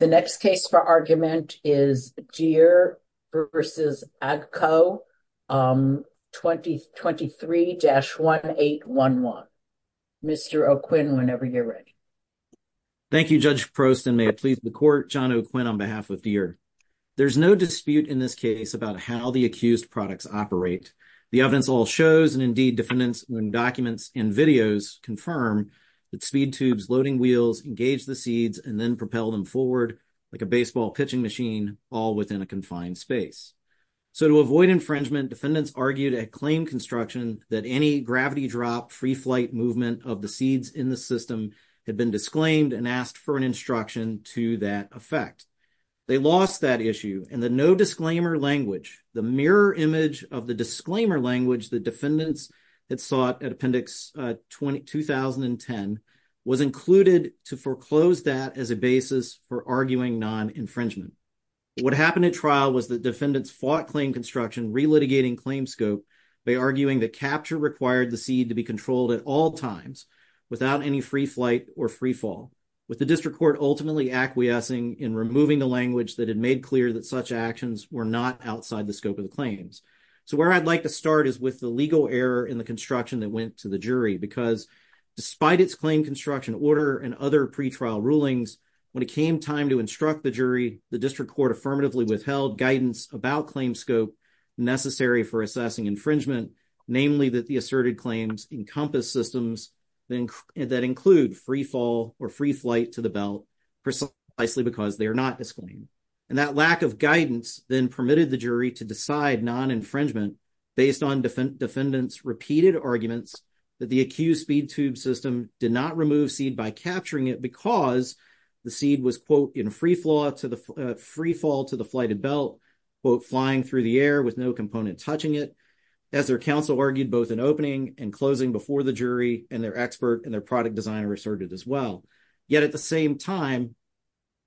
The next case for argument is Deere v. AGCO, 23-1811. Mr. O'Quinn, whenever you're ready. Thank you, Judge Prost, and may it please the Court, John O'Quinn on behalf of Deere. There's no dispute in this case about how the accused products operate. The evidence all shows, and indeed defendants' own documents and videos, confirm that speed tubes loading wheels engage the seeds and then propel them forward like a baseball pitching machine, all within a confined space. So to avoid infringement, defendants argued at claim construction that any gravity drop, free flight movement of the seeds in the system had been disclaimed and asked for an instruction to that effect. They lost that issue, and the no-disclaimer language, the mirror image of the disclaimer language that defendants had sought at Appendix 2010, was included to foreclose that as a basis for arguing non-infringement. What happened at trial was that defendants fought claim construction, relitigating claim scope by arguing that capture required the seed to be controlled at all times without any free flight or free fall, with the District Court ultimately acquiescing in removing the language that had made clear that such actions were not outside the scope of the claims. So where I'd like to start is with the legal error in the construction that went to the jury, because despite its claim construction order and other pretrial rulings, when it came time to instruct the jury, the District Court affirmatively withheld guidance about claim scope necessary for assessing infringement, namely that the asserted claims encompass systems that include free fall or free flight to the belt, precisely because they are not disclaimed. And that lack of guidance then permitted the jury to decide non-infringement based on defendants' repeated arguments that the accused speed tube system did not remove seed by capturing it because the seed was, quote, in free fall to the flighted belt, quote, flying through the air with no component touching it, as their counsel argued both in opening and closing before the jury and their expert and their product designer asserted as well. Yet at the same time,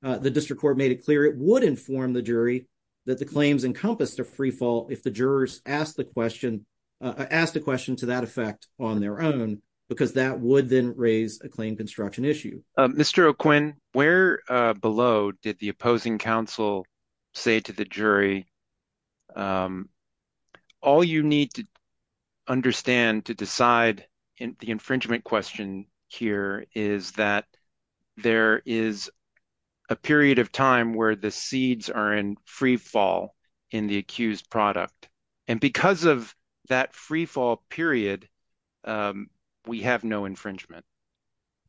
the District Court made it clear it would inform the jury that the claims encompassed a free fall if the jurors asked the question, asked a question to that effect on their own, because that would then raise a claim construction issue. Mr. O'Quinn, where below did the opposing counsel say to the jury, all you need to understand to decide the infringement question here is that there is a period of time where the seeds are in free fall in the accused product. And because of that free fall period, we have no infringement.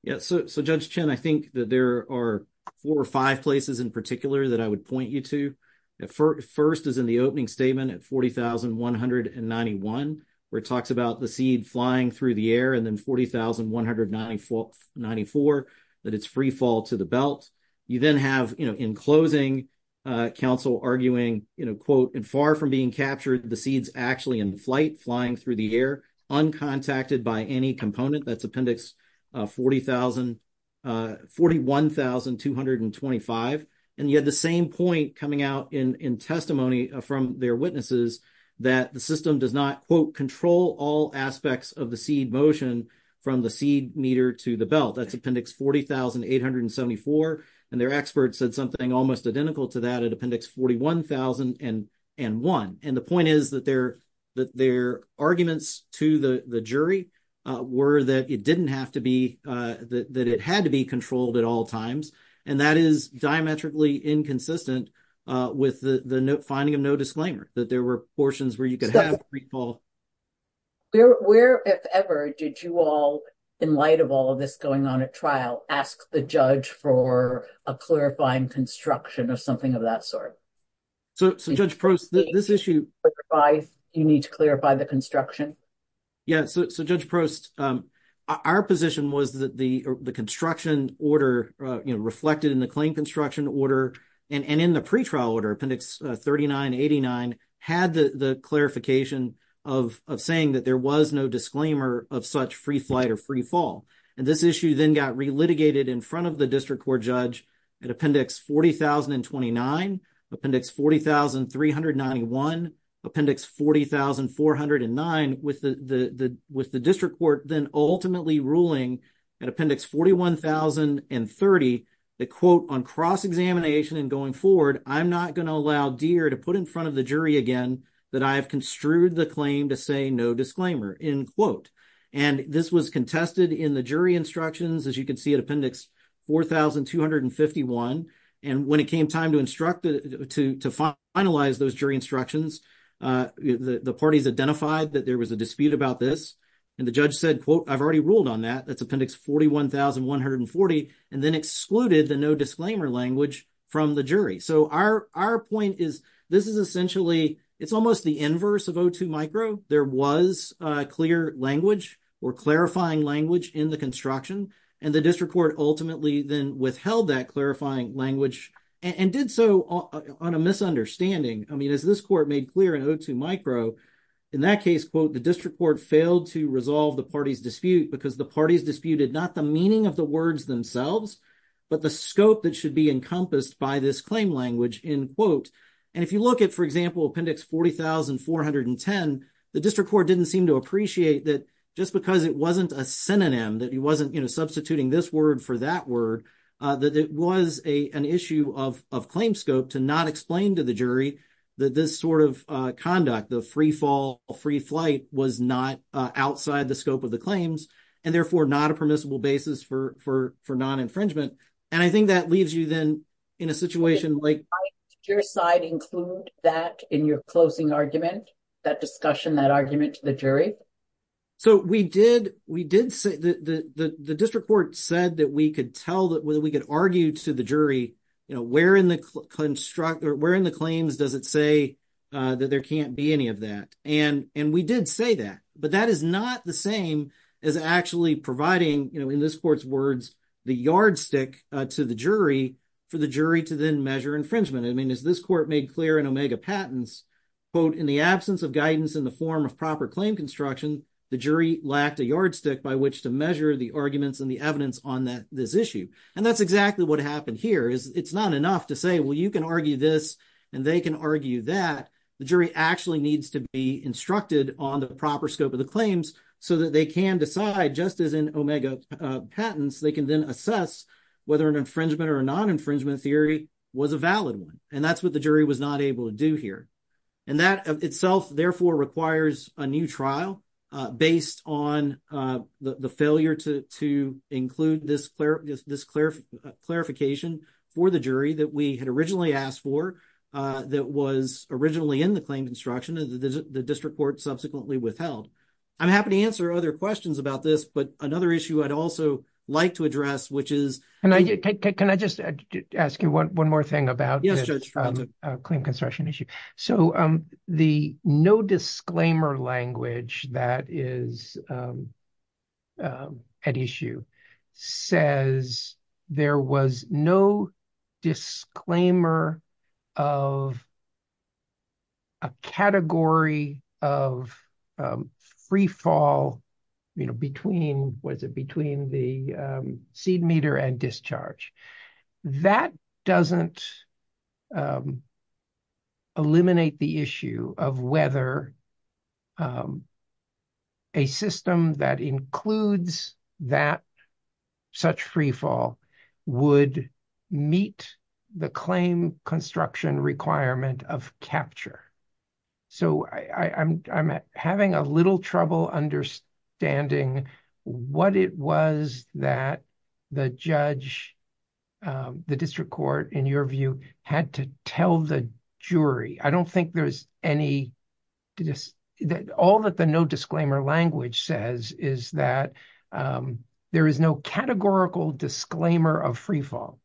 Yeah, so Judge Chen, I think that there are four places in particular that I would point you to. First is in the opening statement at 40,191, where it talks about the seed flying through the air, and then 40,194, that it's free fall to the belt. You then have, you know, in closing, counsel arguing, you know, quote, and far from being captured, the seed's actually in flight, flying through the air, uncontacted by any component. That's Appendix 41,225. And you had the same point coming out in testimony from their witnesses, that the system does not, quote, control all aspects of the seed motion from the seed meter to the belt. That's Appendix 40,874. And their expert said something almost identical to that at Appendix 41,001. And the point is that their arguments to the jury were that it didn't have to be, that it had to be controlled at all times. And that is diametrically inconsistent with the finding of no disclaimer, that there were portions where you could have free fall. Where, if ever, did you all, in light of all of this going on at trial, ask the judge for a clarifying construction of something of that sort? So, Judge Prost, this issue... You need to clarify the construction? Yeah. So, Judge Prost, our position was that the construction order, you know, reflected in the claim construction order and in the pretrial order, Appendix 39,89, had the clarification of saying that there was no disclaimer of such free flight or free fall. And this issue then got re-litigated in front of the district court judge at Appendix 40,029, Appendix 40,391, Appendix 40,409, with the district court then ultimately ruling at Appendix 41,030, that, quote, on cross-examination and going forward, I'm not going to allow Deere to put in front of the jury again that I have construed the claim to say no disclaimer, end quote. And this was contested in the jury instructions, as you can see, at Appendix 4,251. And when it came time to finalize those jury instructions, the parties identified that there was a dispute about this. And the judge said, quote, I've already ruled on that, that's Appendix 41,140, and then excluded the no disclaimer language from the jury. So, our point is, this is essentially, it's almost the inverse of O2 micro. There was a clear language or clarifying language in the construction, and the district court ultimately then withheld that clarifying language and did so on a misunderstanding. I mean, as this court made clear in O2 micro, in that case, quote, the district court failed to resolve the party's dispute because the parties disputed not the meaning of the words themselves, but the scope that should be encompassed by this language, end quote. And if you look at, for example, Appendix 40,410, the district court didn't seem to appreciate that just because it wasn't a synonym, that he wasn't substituting this word for that word, that it was an issue of claim scope to not explain to the jury that this sort of conduct, the free fall, free flight was not outside the scope of the claims, and therefore not a permissible basis for non-infringement. And I think that leaves you then in a situation like- Did your side include that in your closing argument, that discussion, that argument to the jury? So we did say, the district court said that we could tell that whether we could argue to the jury, you know, where in the claims does it say that there can't be any of that? And we did say that, but that is not the same as actually providing, you know, in this court's words, the yardstick to the jury for the jury to then measure infringement. I mean, as this court made clear in Omega Patents, quote, in the absence of guidance in the form of proper claim construction, the jury lacked a yardstick by which to measure the arguments and the evidence on this issue. And that's exactly what happened here, is it's not enough to say, well, you can argue this, and they can argue that. The jury actually needs to be instructed on the proper scope of the claims so that they can decide, just as in Omega Patents, they can then assess whether an infringement or a non-infringement theory was a valid one. And that's what the jury was not able to do here. And that itself, therefore, requires a new trial based on the failure to include this clarification for the jury that we had originally asked for, that was originally in the claim construction. The district court subsequently withheld. I'm happy to answer other questions about this, but another issue I'd also like to address, which is... And can I just ask you one more thing about the claim construction issue? So the no disclaimer language that is at issue says there was no disclaimer of a category of free fall between the seed meter and discharge. That doesn't eliminate the issue of whether a system that includes such free fall would meet the claim construction requirement of capture. So I'm having a little trouble understanding what it was that the judge, the district court, in your view, had to tell the jury. I don't think there's any... All that the no disclaimer language says is that there is no categorical disclaimer of free fall.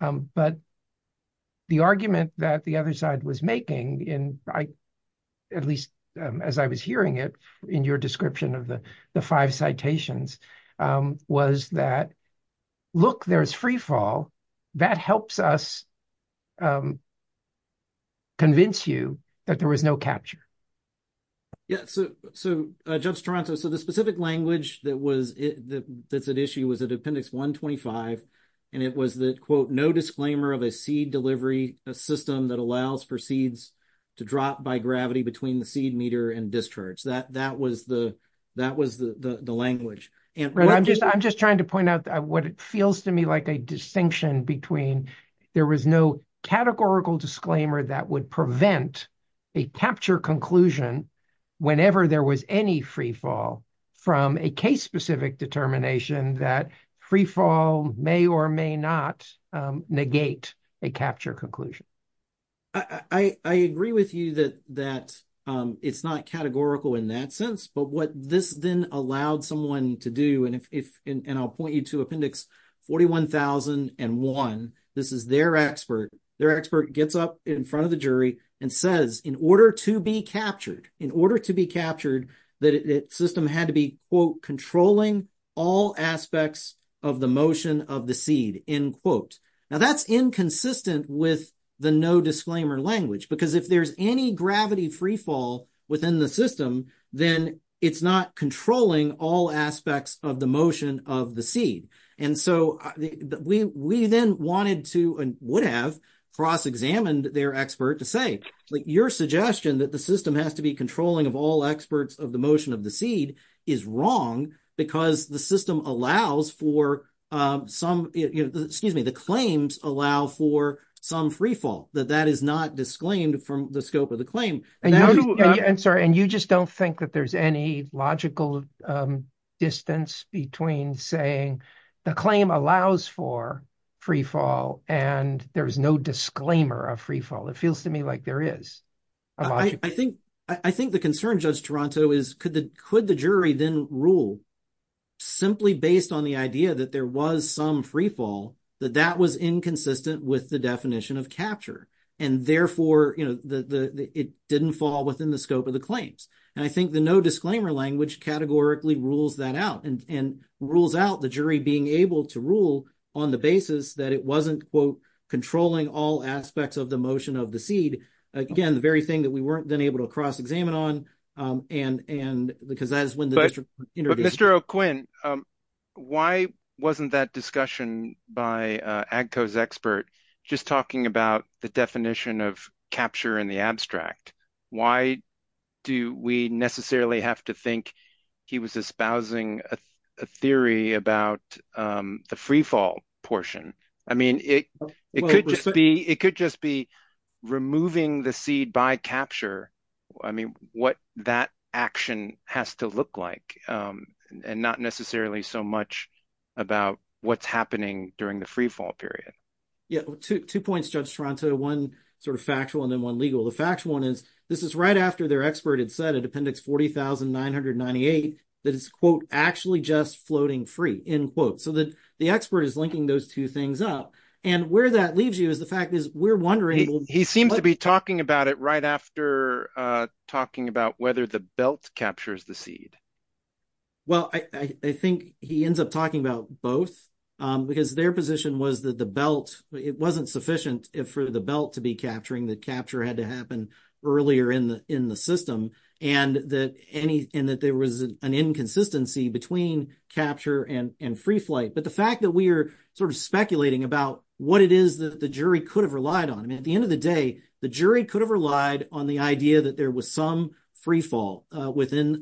But the argument that the other side was making, at least as I was hearing it in your description of the five citations, was that, look, there's free fall. That helps us convince you that there was no capture. Yeah. So Judge Toronto, so the specific language that's at issue was at Appendix 125, and it was that, quote, no disclaimer of a seed delivery system that allows for seeds to drop by gravity between the seed meter and discharge. That was the language. Right. I'm just trying to point out what it feels to me like a distinction between there was no categorical disclaimer that would prevent a capture conclusion whenever there was any free fall from a case-specific determination that free fall may or may not negate a capture conclusion. I agree with you that it's not categorical in that sense, but what this then allowed someone to do, and I'll point you to Appendix 41001. This is their expert. Their expert gets up in front of the jury and says, in order to be captured, in order to be Now, that's inconsistent with the no disclaimer language, because if there's any gravity free fall within the system, then it's not controlling all aspects of the motion of the seed. And so we then wanted to and would have cross-examined their expert to say, like, your suggestion that the system has to be controlling of all experts of the motion of the claims allow for some free fall, that that is not disclaimed from the scope of the claim. I'm sorry, and you just don't think that there's any logical distance between saying the claim allows for free fall and there's no disclaimer of free fall? It feels to me like there is. I think the concern, Judge Toronto, is could the jury then rule, simply based on the idea that there was some free fall, that that was inconsistent with the definition of capture, and therefore it didn't fall within the scope of the claims? And I think the no disclaimer language categorically rules that out and rules out the jury being able to rule on the basis that it wasn't, quote, controlling all aspects of the motion of the seed. Again, the very thing that we weren't then able to cross-examine on, because that is when the district intervened. Mr. O'Quinn, why wasn't that discussion by AGCO's expert just talking about the definition of capture in the abstract? Why do we necessarily have to think he was espousing a theory about the free fall portion? I mean, it could just be removing the seed by capture. I mean, what that action has to look like, and not necessarily so much about what's happening during the free fall period. Yeah. Two points, Judge Toronto. One sort of factual and then one legal. The factual one is this is right after their expert had said in Appendix 40,998 that it's, quote, actually just floating free, end quote. So the expert is linking those two things up. And where that leaves you is the fact is we're wondering- He seems to be talking about it right after talking about whether the belt captures the seed. Well, I think he ends up talking about both, because their position was that the belt, it wasn't sufficient for the belt to be capturing. The capture had to happen earlier in the system. And that there was an inconsistency between capture and free flight. But the fact that we are sort of speculating about what it is that the jury could have relied on. I the jury could have relied on the idea that there was some free fall within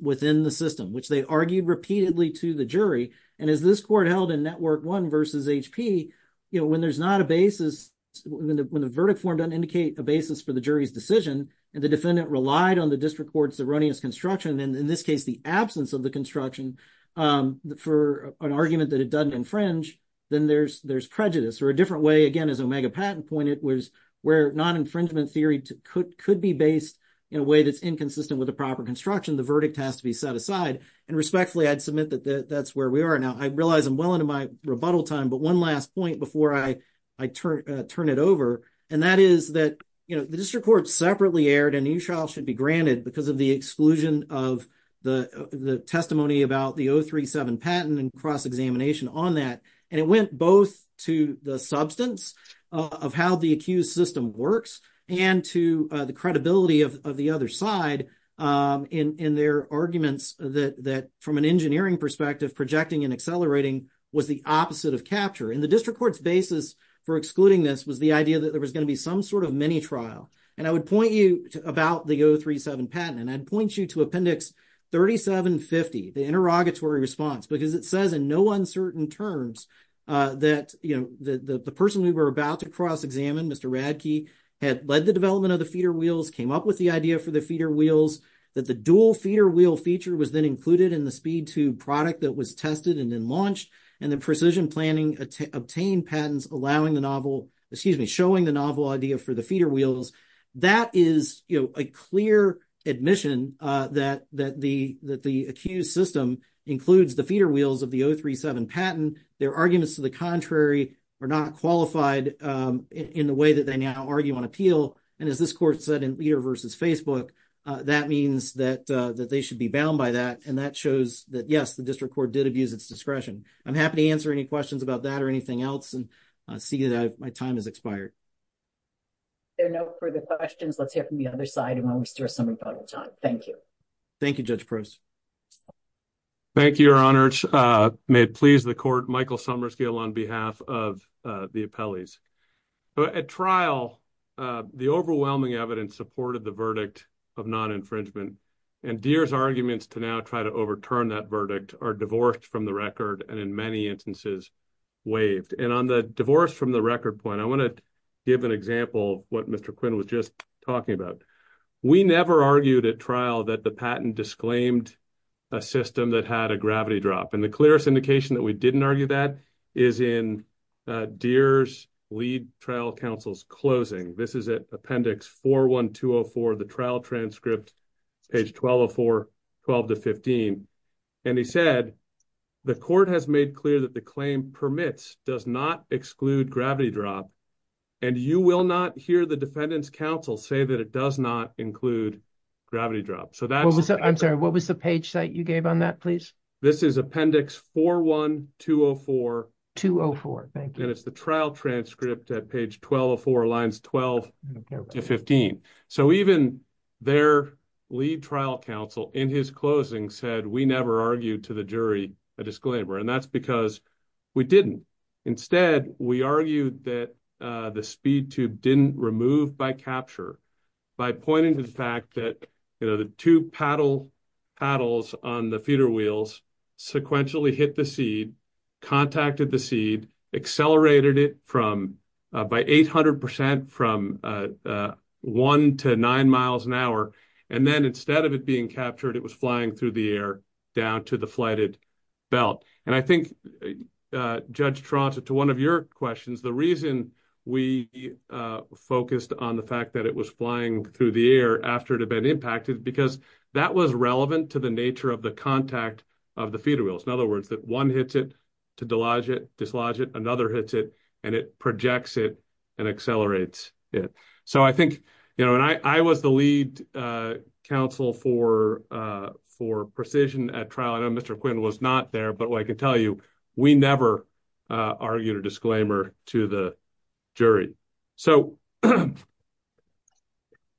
the system, which they argued repeatedly to the jury. And as this court held in Network 1 versus HP, when there's not a basis, when the verdict form doesn't indicate a basis for the jury's decision, and the defendant relied on the district court's erroneous construction, and in this case, the absence of the construction for an argument that it doesn't infringe, then there's prejudice. A different way, again, as Omega Patton pointed, was where non-infringement theory could be based in a way that's inconsistent with the proper construction. The verdict has to be set aside. And respectfully, I'd submit that that's where we are now. I realize I'm well into my rebuttal time, but one last point before I turn it over, and that is that the district court separately aired a new trial should be granted because of the exclusion of the testimony about the 037 patent and cross-examination on that. And it went both to the substance of how the accused system works and to the credibility of the other side in their arguments that, from an engineering perspective, projecting and accelerating was the opposite of capture. And the district court's basis for excluding this was the idea that there was going to be some sort of mini-trial. And I would point you to about the 037 patent, and I'd point you to Appendix 3750, the interrogatory response, because it says in no uncertain terms that the person we were about to cross-examine, Mr. Radke, had led the development of the feeder wheels, came up with the idea for the feeder wheels, that the dual feeder wheel feature was then included in the speed tube product that was tested and then launched, and the precision planning obtained patents allowing the novel, excuse me, showing the novel idea for the feeder wheels. That is a clear admission that the accused system includes the feeder wheels of the 037 patent. Their arguments to the contrary are not qualified in the way that they now argue on appeal. And as this court said in Leader v. Facebook, that means that they should be bound by that. And that shows that, yes, the district court did abuse its discretion. I'm happy to answer any questions about that or anything else and see that my time has expired. There are no further questions. Let's hear from the other side and we'll restore some rebuttal time. Thank you. Thank you, Judge Pruess. Thank you, Your Honors. May it please the court, Michael Summerskill on behalf of the appellees. At trial, the overwhelming evidence supported the verdict of non-infringement, and Deere's arguments to now try to overturn that verdict are divorced from the record and in many instances waived. And on the divorce from the record point, I want to give an example of what Mr. Quinn was just talking about. We never argued at trial that the patent disclaimed a system that had a gravity drop. And the clearest indication that we didn't argue that is in Deere's lead trial counsel's closing. This is at appendix 41204 of the trial transcript, page 1204, 12 to 15. And he said, the court has made clear that the claim permits does not exclude gravity drop, and you will not hear the defendant's counsel say that it does not include gravity drop. I'm sorry, what was the page site you gave on that, please? This is appendix 41204. 204, thank you. And it's the trial transcript at page 1204, lines 12 to 15. So even their lead trial counsel in his closing said, we never argued to the jury a disclaimer, and that's because we didn't. Instead, we argued that the speed tube didn't remove by capture by pointing to the fact that, you know, the two paddles on the feeder wheels sequentially hit the seed, contacted the seed, accelerated it by 800% from one to nine miles an hour. And then instead of it being captured, it was flying through the air down to the flighted belt. And I think, Judge Toronto, to one of your questions, the reason we focused on the fact that it was flying through the air after it had been impacted, because that was relevant to the nature of the contact of the feeder wheels. In other words, one hits it to dislodge it, another hits it, and it projects it and accelerates it. So I think, you know, and I was the lead counsel for precision at trial. I know Mr. Quinn was not there, but what I can tell you, we never argued a disclaimer to the jury. So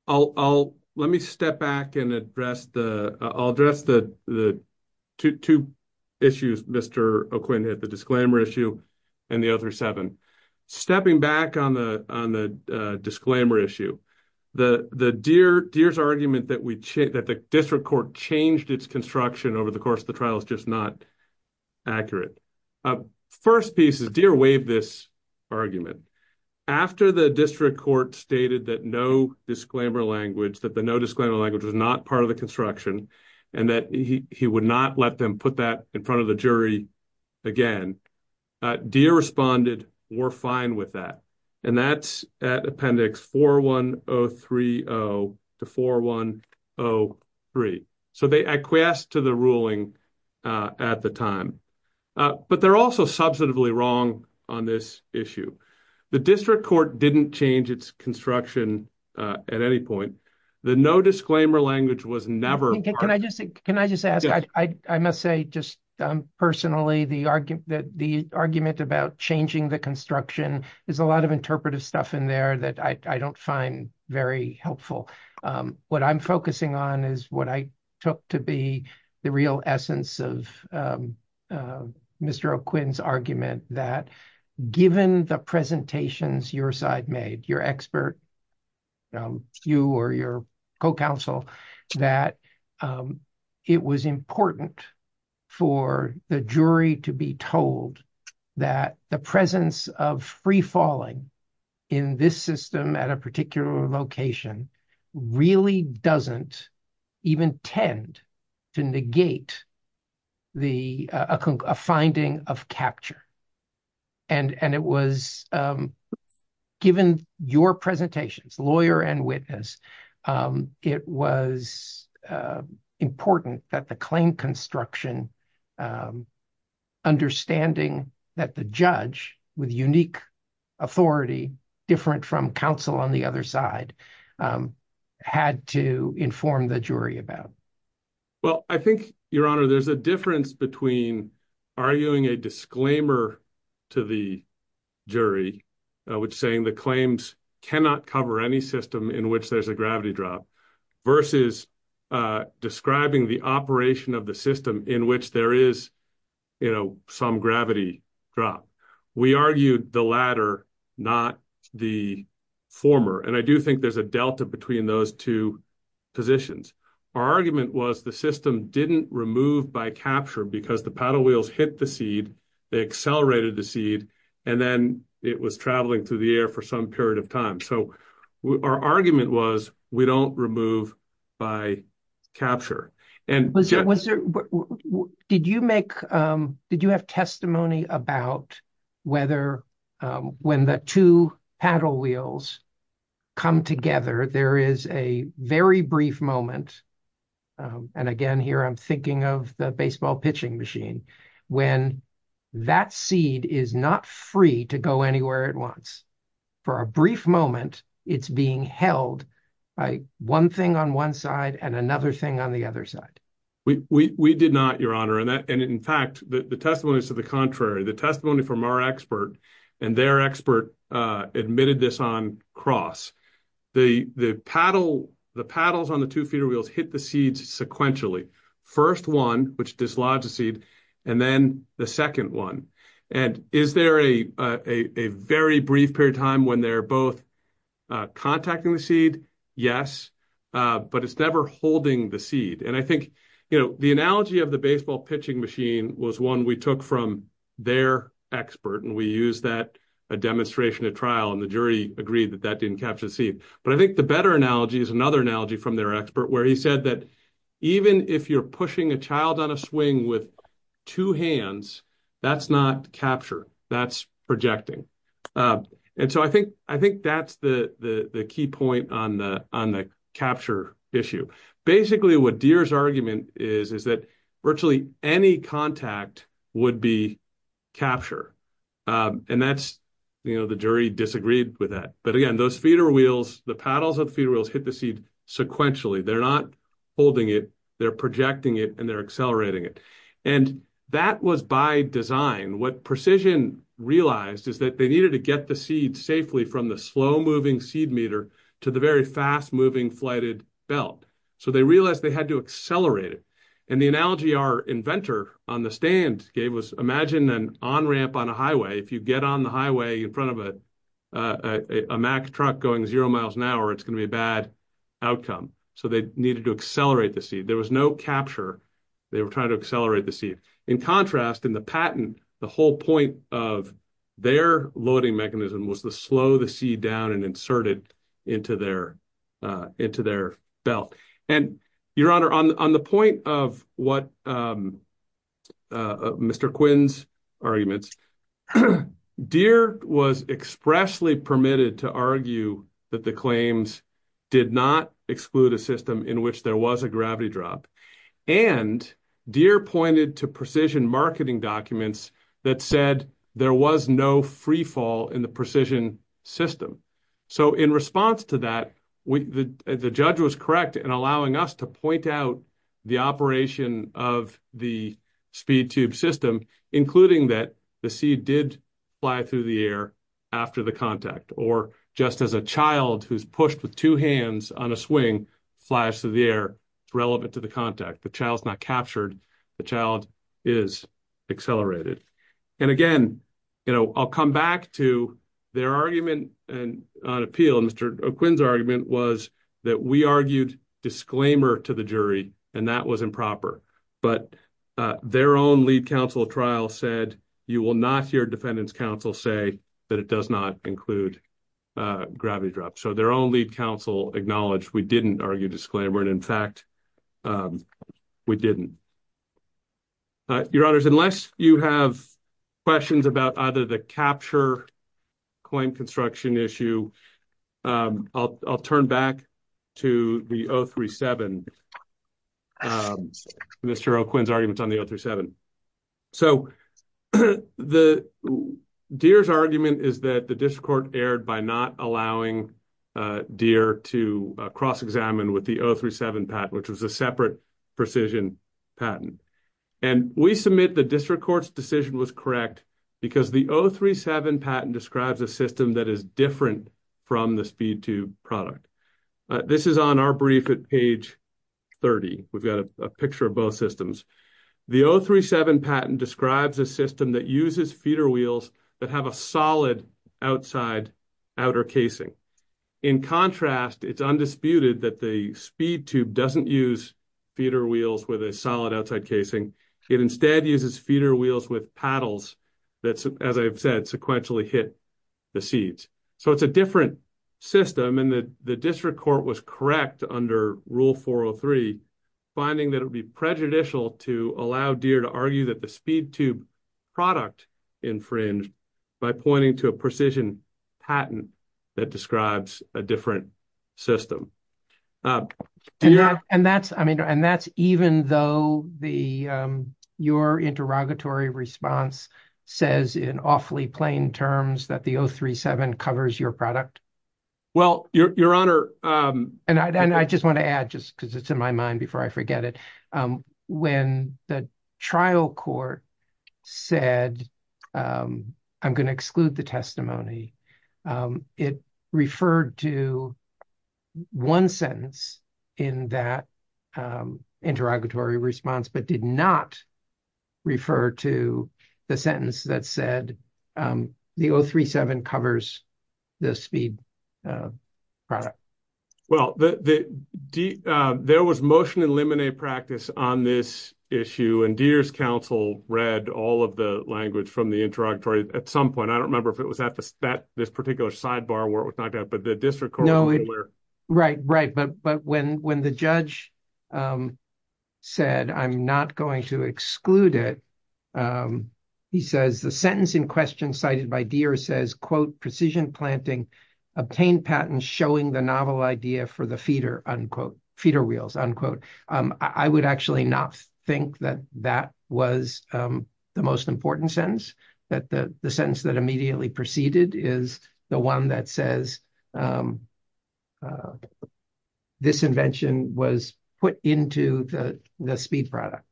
let me step back and address the, I'll address the two issues Mr. O'Quinn had, the disclaimer issue and the other seven. Stepping back on the disclaimer issue, Deere's argument that the district court changed its construction over the course of the trial is just not accurate. First piece is Deere waived this argument. After the district court stated that no disclaimer language, that the no disclaimer language was not part of the construction, and that he would not let them put that in front of the jury again, Deere responded, we're fine with that. And that's at appendix 41030 to 4103. So they acquiesced to the ruling at the time. But they're also substantively wrong on this issue. The district court didn't change its construction at any point. The no disclaimer language was never part of it. Can I just ask, I must say just personally, the argument about changing the construction, there's a lot of interpretive stuff in there that I don't find very helpful. What I'm focusing on is what I took to be the real essence of Mr. O'Quinn's argument, that given the presentations your side made, your expert, you or your co-counsel, that it was important for the jury to be told that the presence of free falling in this system at a particular location really doesn't even tend to negate a finding of capture. And it was, given your presentations, lawyer and witness, it was important that the claim construction, understanding that the judge with unique authority, different from counsel on the other side, had to inform the jury about. Well, I think, Your Honor, there's a difference between arguing a disclaimer to the jury, which saying the claims cannot cover any system in which there's a there is some gravity drop. We argued the latter, not the former. And I do think there's a delta between those two positions. Our argument was the system didn't remove by capture because the paddle wheels hit the seed, they accelerated the seed, and then it was traveling through the air for some period of time. So our argument was we don't remove by capture. Did you have testimony about whether when the two paddle wheels come together, there is a very brief moment, and again, here I'm thinking of the baseball pitching machine, when that seed is not free to go anywhere it wants. For a brief moment, it's being held by one thing on one side and another thing on the other side. We did not, Your Honor. And in fact, the testimony is to the contrary. The testimony from our expert and their expert admitted this on cross. The paddles on the two feeder wheels hit the seeds sequentially. First one, which dislodged the seed, and then the second one. And is there a very brief period of time when they're both contacting the seed? Yes, but it's never holding the seed. And I think, you know, the analogy of the baseball pitching machine was one we took from their expert, and we used that a demonstration at trial, and the jury agreed that that didn't capture the seed. But I think the better analogy is another analogy from their expert, where he said that even if you're pushing a child on a swing with two hands, that's not capture, that's projecting. And so I think that's the key point on the capture issue. Basically, what Deere's argument is, is that virtually any contact would be capture. And that's, you know, the jury disagreed with that. But again, those feeder wheels, the paddles of the feeder wheels hit the seed sequentially. They're not holding it, they're projecting it, and they're accelerating it. And that was by design. What Precision realized is that they needed to get the seed safely from the slow-moving seed meter to the very fast-moving flighted belt. So they realized they had to accelerate it. And the analogy our inventor on the stand gave was, imagine an on-ramp on a highway. If you get on the highway in front of a Mack truck going zero miles an hour, it's going to be a bad outcome. So they needed to accelerate the seed. There was no capture. They were trying to accelerate the seed. In contrast, in the patent, the whole point of their loading mechanism was to slow the seed down and insert it into their belt. And Your Honor, on the point of what Mr. Quinn's arguments, Deere was expressly permitted to argue that the claims did not exclude a system in which there was a gravity drop. And Deere pointed to Precision marketing documents that said there was no freefall in the Precision system. So in response to that, the judge was correct in allowing us to point out the operation of the speed tube system, including that the seed did fly through the air after the contact, or just as a child who's pushed with two hands on a swing flies through the air relevant to the contact. The child's not captured. The child is accelerated. And again, I'll come back to their argument on appeal. Mr. Quinn's was that we argued disclaimer to the jury, and that was improper, but their own lead counsel trial said, you will not hear defendants counsel say that it does not include a gravity drop. So their own lead counsel acknowledged we didn't argue disclaimer. And in fact, we didn't. Your Honors, unless you have questions about either the capture claim construction issue, I'll turn back to the 037. Mr. Quinn's argument on the 037. So Deere's argument is that the district court erred by not allowing Deere to cross-examine with the 037 patent, which was a separate Precision patent. And we submit the district court's decision was correct because the 037 patent describes a system that is different from the speed tube product. This is on our brief at page 30. We've got a picture of both systems. The 037 patent describes a system that uses feeder wheels that have a solid outside outer casing. In contrast, it's undisputed that the speed tube doesn't use feeder wheels with a solid outside casing. It instead uses feeder wheels with paddles that, as I've said, sequentially hit the seeds. So it's a different system. And the district court was correct under Rule 403, finding that it would be prejudicial to allow Deere to argue that the speed tube product infringed by pointing to a Precision patent that describes a different system. And that's even though your interrogatory response says in awfully plain terms that the 037 covers your product. Well, Your Honor. And I just want to add just because it's in my mind before I forget it. When the trial court said, I'm going to exclude the testimony, it referred to one sentence in that interrogatory response, but did not refer to the sentence that said the 037 covers the speed product. Well, there was motion to eliminate practice on this issue. And Deere's counsel read all of the language from the interrogatory at some point. I don't remember if it was at this particular sidebar where it was not, but the district court. Right, right. But when the judge said, I'm not going to exclude it, he says the sentence in question cited by Deere says, quote, Precision planting, obtained patents showing the novel idea for the feeder wheels, unquote. I would actually not think that that was the most important sentence, that the sentence that immediately preceded is the one that says this invention was put into the speed product.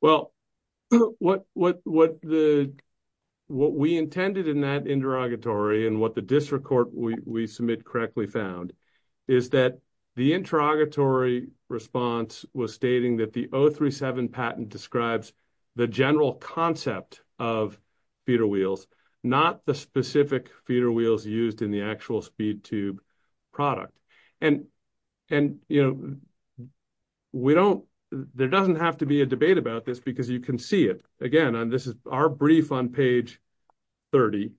Well, what we intended in that interrogatory and what the district court we submit correctly found is that the interrogatory response was stating that the 037 patent describes the general concept of feeder wheels, not the specific feeder wheels used in the actual speed tube product. And there doesn't have to be a debate about this because you can see it again. And this is our brief on page 30.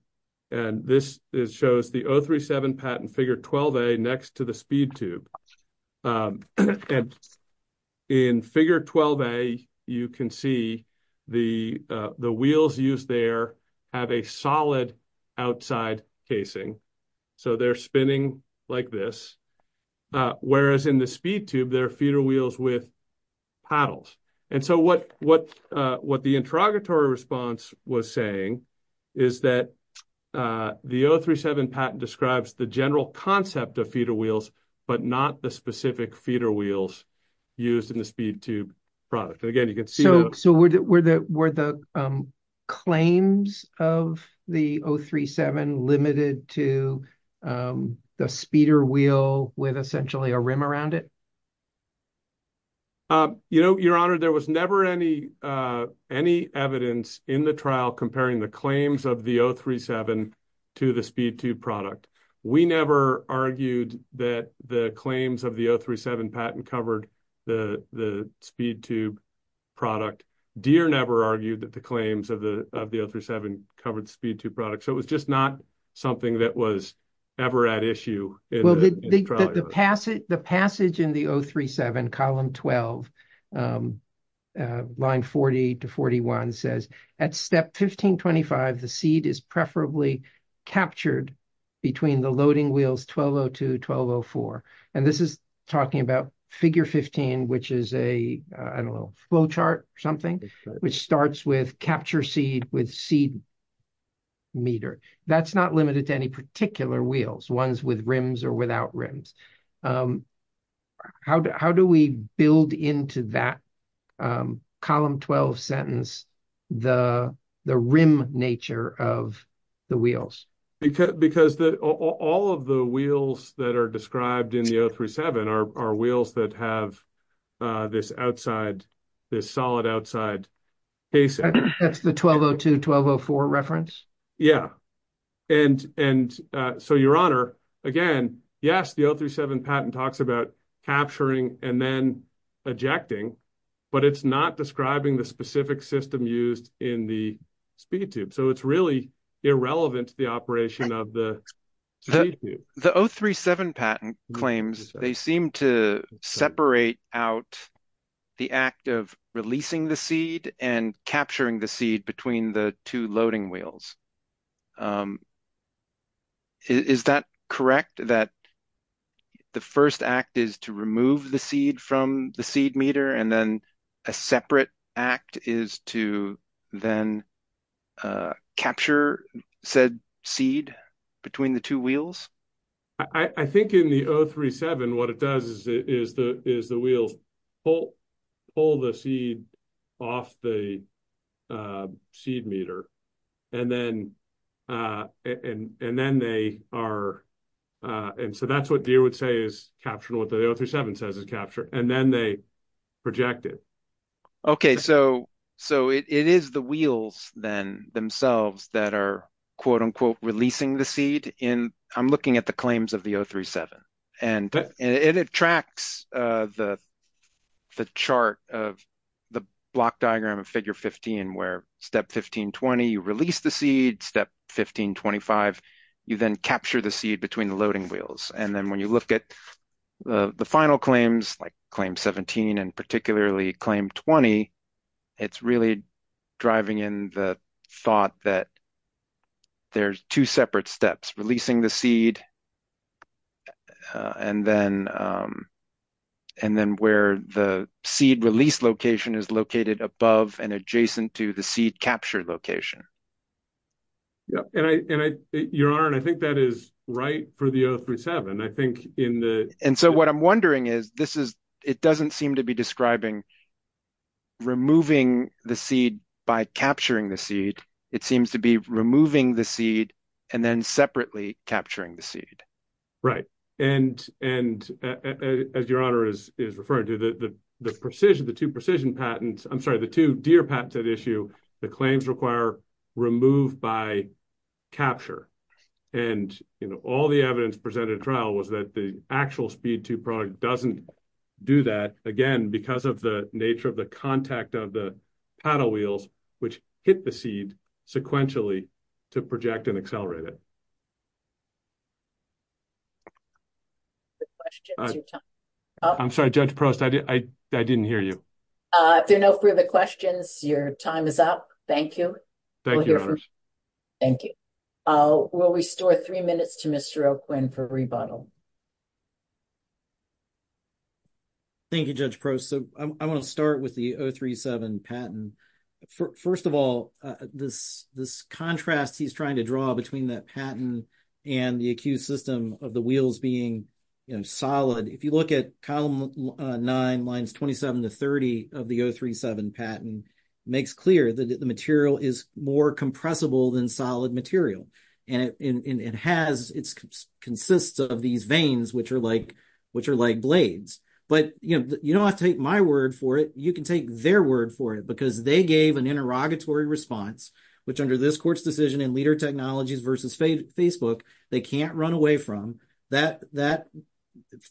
And this shows the 037 patent figure 12A next to the speed tube. And in figure 12A, you can see the wheels used there have a solid outside casing. So they're spinning like this, whereas in the speed tube, they're feeder wheels with paddles. And so what the interrogatory response was saying is that the 037 patent describes the general concept of feeder wheels, but not the specific feeder wheels used in the speed tube product. And again, you can see- So were the claims of the 037 limited to the speeder wheel with essentially a rim around it? You know, your honor, there was never any evidence in the trial comparing the claims of the 037 to the speed tube product. We never argued that the claims of the 037 patent covered the speed tube product. Deere never argued that the claims of the 037 covered speed tube product. So it was just not something that was ever at issue in the trial. The passage in the 037 column 12, line 40 to 41 says, at step 1525, the seed is preferably captured between the loading wheels 1202, 1204. And this is talking about figure 15, which is a, I don't know, flow chart or something, which starts with capture seed with seed meter. That's not limited to any particular wheels, ones with rims or without rims. How do we build into that column 12 sentence, the rim nature of the wheels? Because all of the wheels that are described in the 037 are wheels that have this outside, this solid outside. That's the 1202, 1204 reference? Yeah. And so Your Honor, again, yes, the 037 patent talks about capturing and then ejecting, but it's not describing the specific system used in the speed tube. So it's really irrelevant to the operation of the speed tube. The 037 patent claims, they seem to separate out the act of releasing the seed and capturing the seed between the two loading wheels. Is that correct? That the first act is to remove the seed from the seed meter and then a separate act is to then capture said seed between the two wheels? I think in the 037, what it does is the wheels pull the seed off the seed meter. And so that's what Deere would say is capturing what the 037 says is capture. And then they project it. Okay. So it is the wheels then themselves that are releasing the seed. I'm looking at the claims of the 037. And it tracks the chart of the block diagram of figure 15, where step 1520, you release the seed, step 1525, you then capture the seed between the loading wheels. And then when you look at the final claims, like claim 17, and claim 20, it's really driving in the thought that there's two separate steps, releasing the seed and then where the seed release location is located above and adjacent to the seed capture location. Your Honor, I think that is right for the 037. And so what I'm wondering is, it doesn't seem to be describing removing the seed by capturing the seed. It seems to be removing the seed and then separately capturing the seed. Right. And as Your Honor is referring to, the two precision patents, I'm sorry, the two Deere patents that issue, the claims require remove by capture. And all the evidence presented trial was that the actual speed two product doesn't do that again, because of the nature of the contact of the paddle wheels, which hit the seed sequentially to project and accelerate it. I'm sorry, Judge Prost, I didn't hear you. If there are no further questions, your time is up. Thank you. Thank you. We'll restore three minutes to Mr. O'Quinn for rebuttal. Thank you, Judge Prost. So I want to start with the 037 patent. First of all, this contrast he's trying to draw between that patent and the accused system of the wheels being solid. If you look at nine lines, 27 to 30 of the 037 patent makes clear that the material is more compressible than solid material. And it has, it consists of these veins, which are like, which are like blades. But, you know, you don't have to take my word for it. You can take their word for it because they gave an interrogatory response, which under this court's decision and leader technologies versus Facebook, they can't run away from. That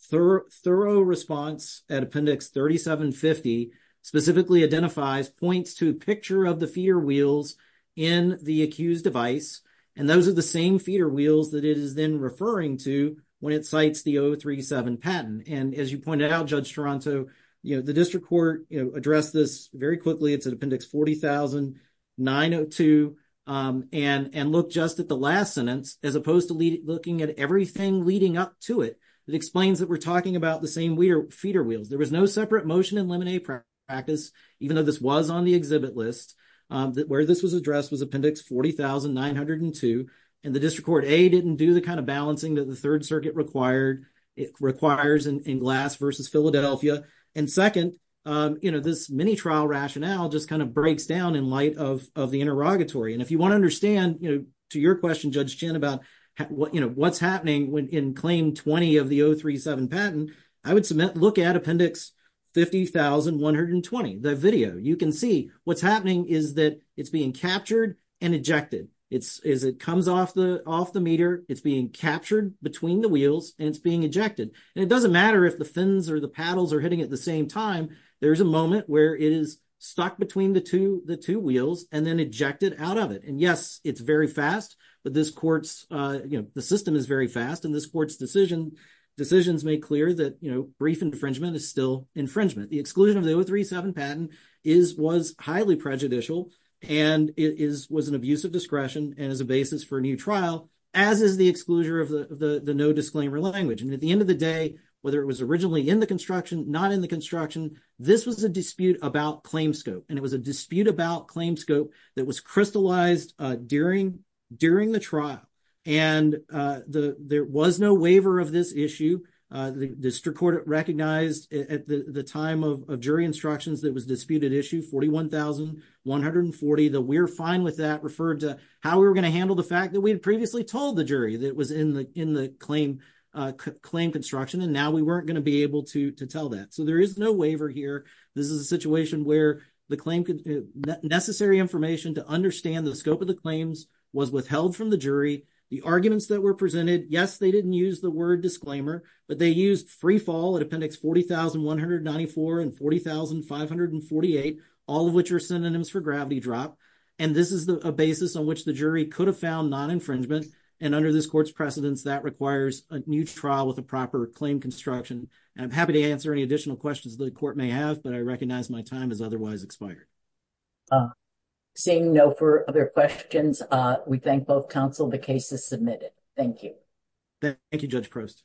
thorough response at appendix 3750 specifically identifies points to a picture of the feeder wheels in the accused device. And those are the same feeder wheels that it is then referring to when it cites the 037 patent. And as you pointed out, Judge Toronto, you know, the district court addressed this very quickly. It's at appendix 40,902. And look just at the last sentence, as opposed to looking at everything leading up to it, that explains that we're talking about the same feeder wheels. There was no separate motion and limine practice, even though this was on the exhibit list, that where this was addressed was appendix 40,902. And the district court, A, didn't do the kind of balancing that the Third Circuit required, it requires in Glass versus Philadelphia. And second, you know, this mini rationale just kind of breaks down in light of the interrogatory. And if you want to understand, you know, to your question, Judge Chin, about what's happening in claim 20 of the 037 patent, I would submit, look at appendix 50,120, the video. You can see what's happening is that it's being captured and ejected. As it comes off the meter, it's being captured between the wheels, and it's being ejected. And it doesn't matter if the fins or the paddles are hitting at the same time, there's a moment where it is stuck between the two wheels and then ejected out of it. And yes, it's very fast, but this court's, you know, the system is very fast. And this court's decision, decisions make clear that, you know, brief infringement is still infringement. The exclusion of the 037 patent was highly prejudicial, and it was an abuse of discretion and as a basis for a new trial, as is the exclusion of the no disclaimer language. And at the end of the day, whether it was originally in the construction, not in the construction, this was a dispute about claim scope. And it was a dispute about claim scope that was crystallized during the trial. And there was no waiver of this issue. The district court recognized at the time of jury instructions that it was a disputed issue, 41,140. The we're fine with that referred to how we were going to handle the fact that we had previously told the jury that it was in the claim construction, and now we weren't going to be able to tell that. So there is no waiver here. This is a situation where the necessary information to understand the scope of the claims was withheld from the jury. The arguments that were presented, yes, they didn't use the word disclaimer, but they used free fall at appendix 40,194 and 40,548, all of which are synonyms for gravity drop. And this is a basis on which the jury could have found non-infringement. And under this court's precedence, that requires a new trial with a proper claim construction. And I'm happy to answer any additional questions the court may have, but I recognize my time is otherwise expired. Seeing no further questions, we thank both counsel. The case is submitted. Thank you. Thank you, Judge Prost.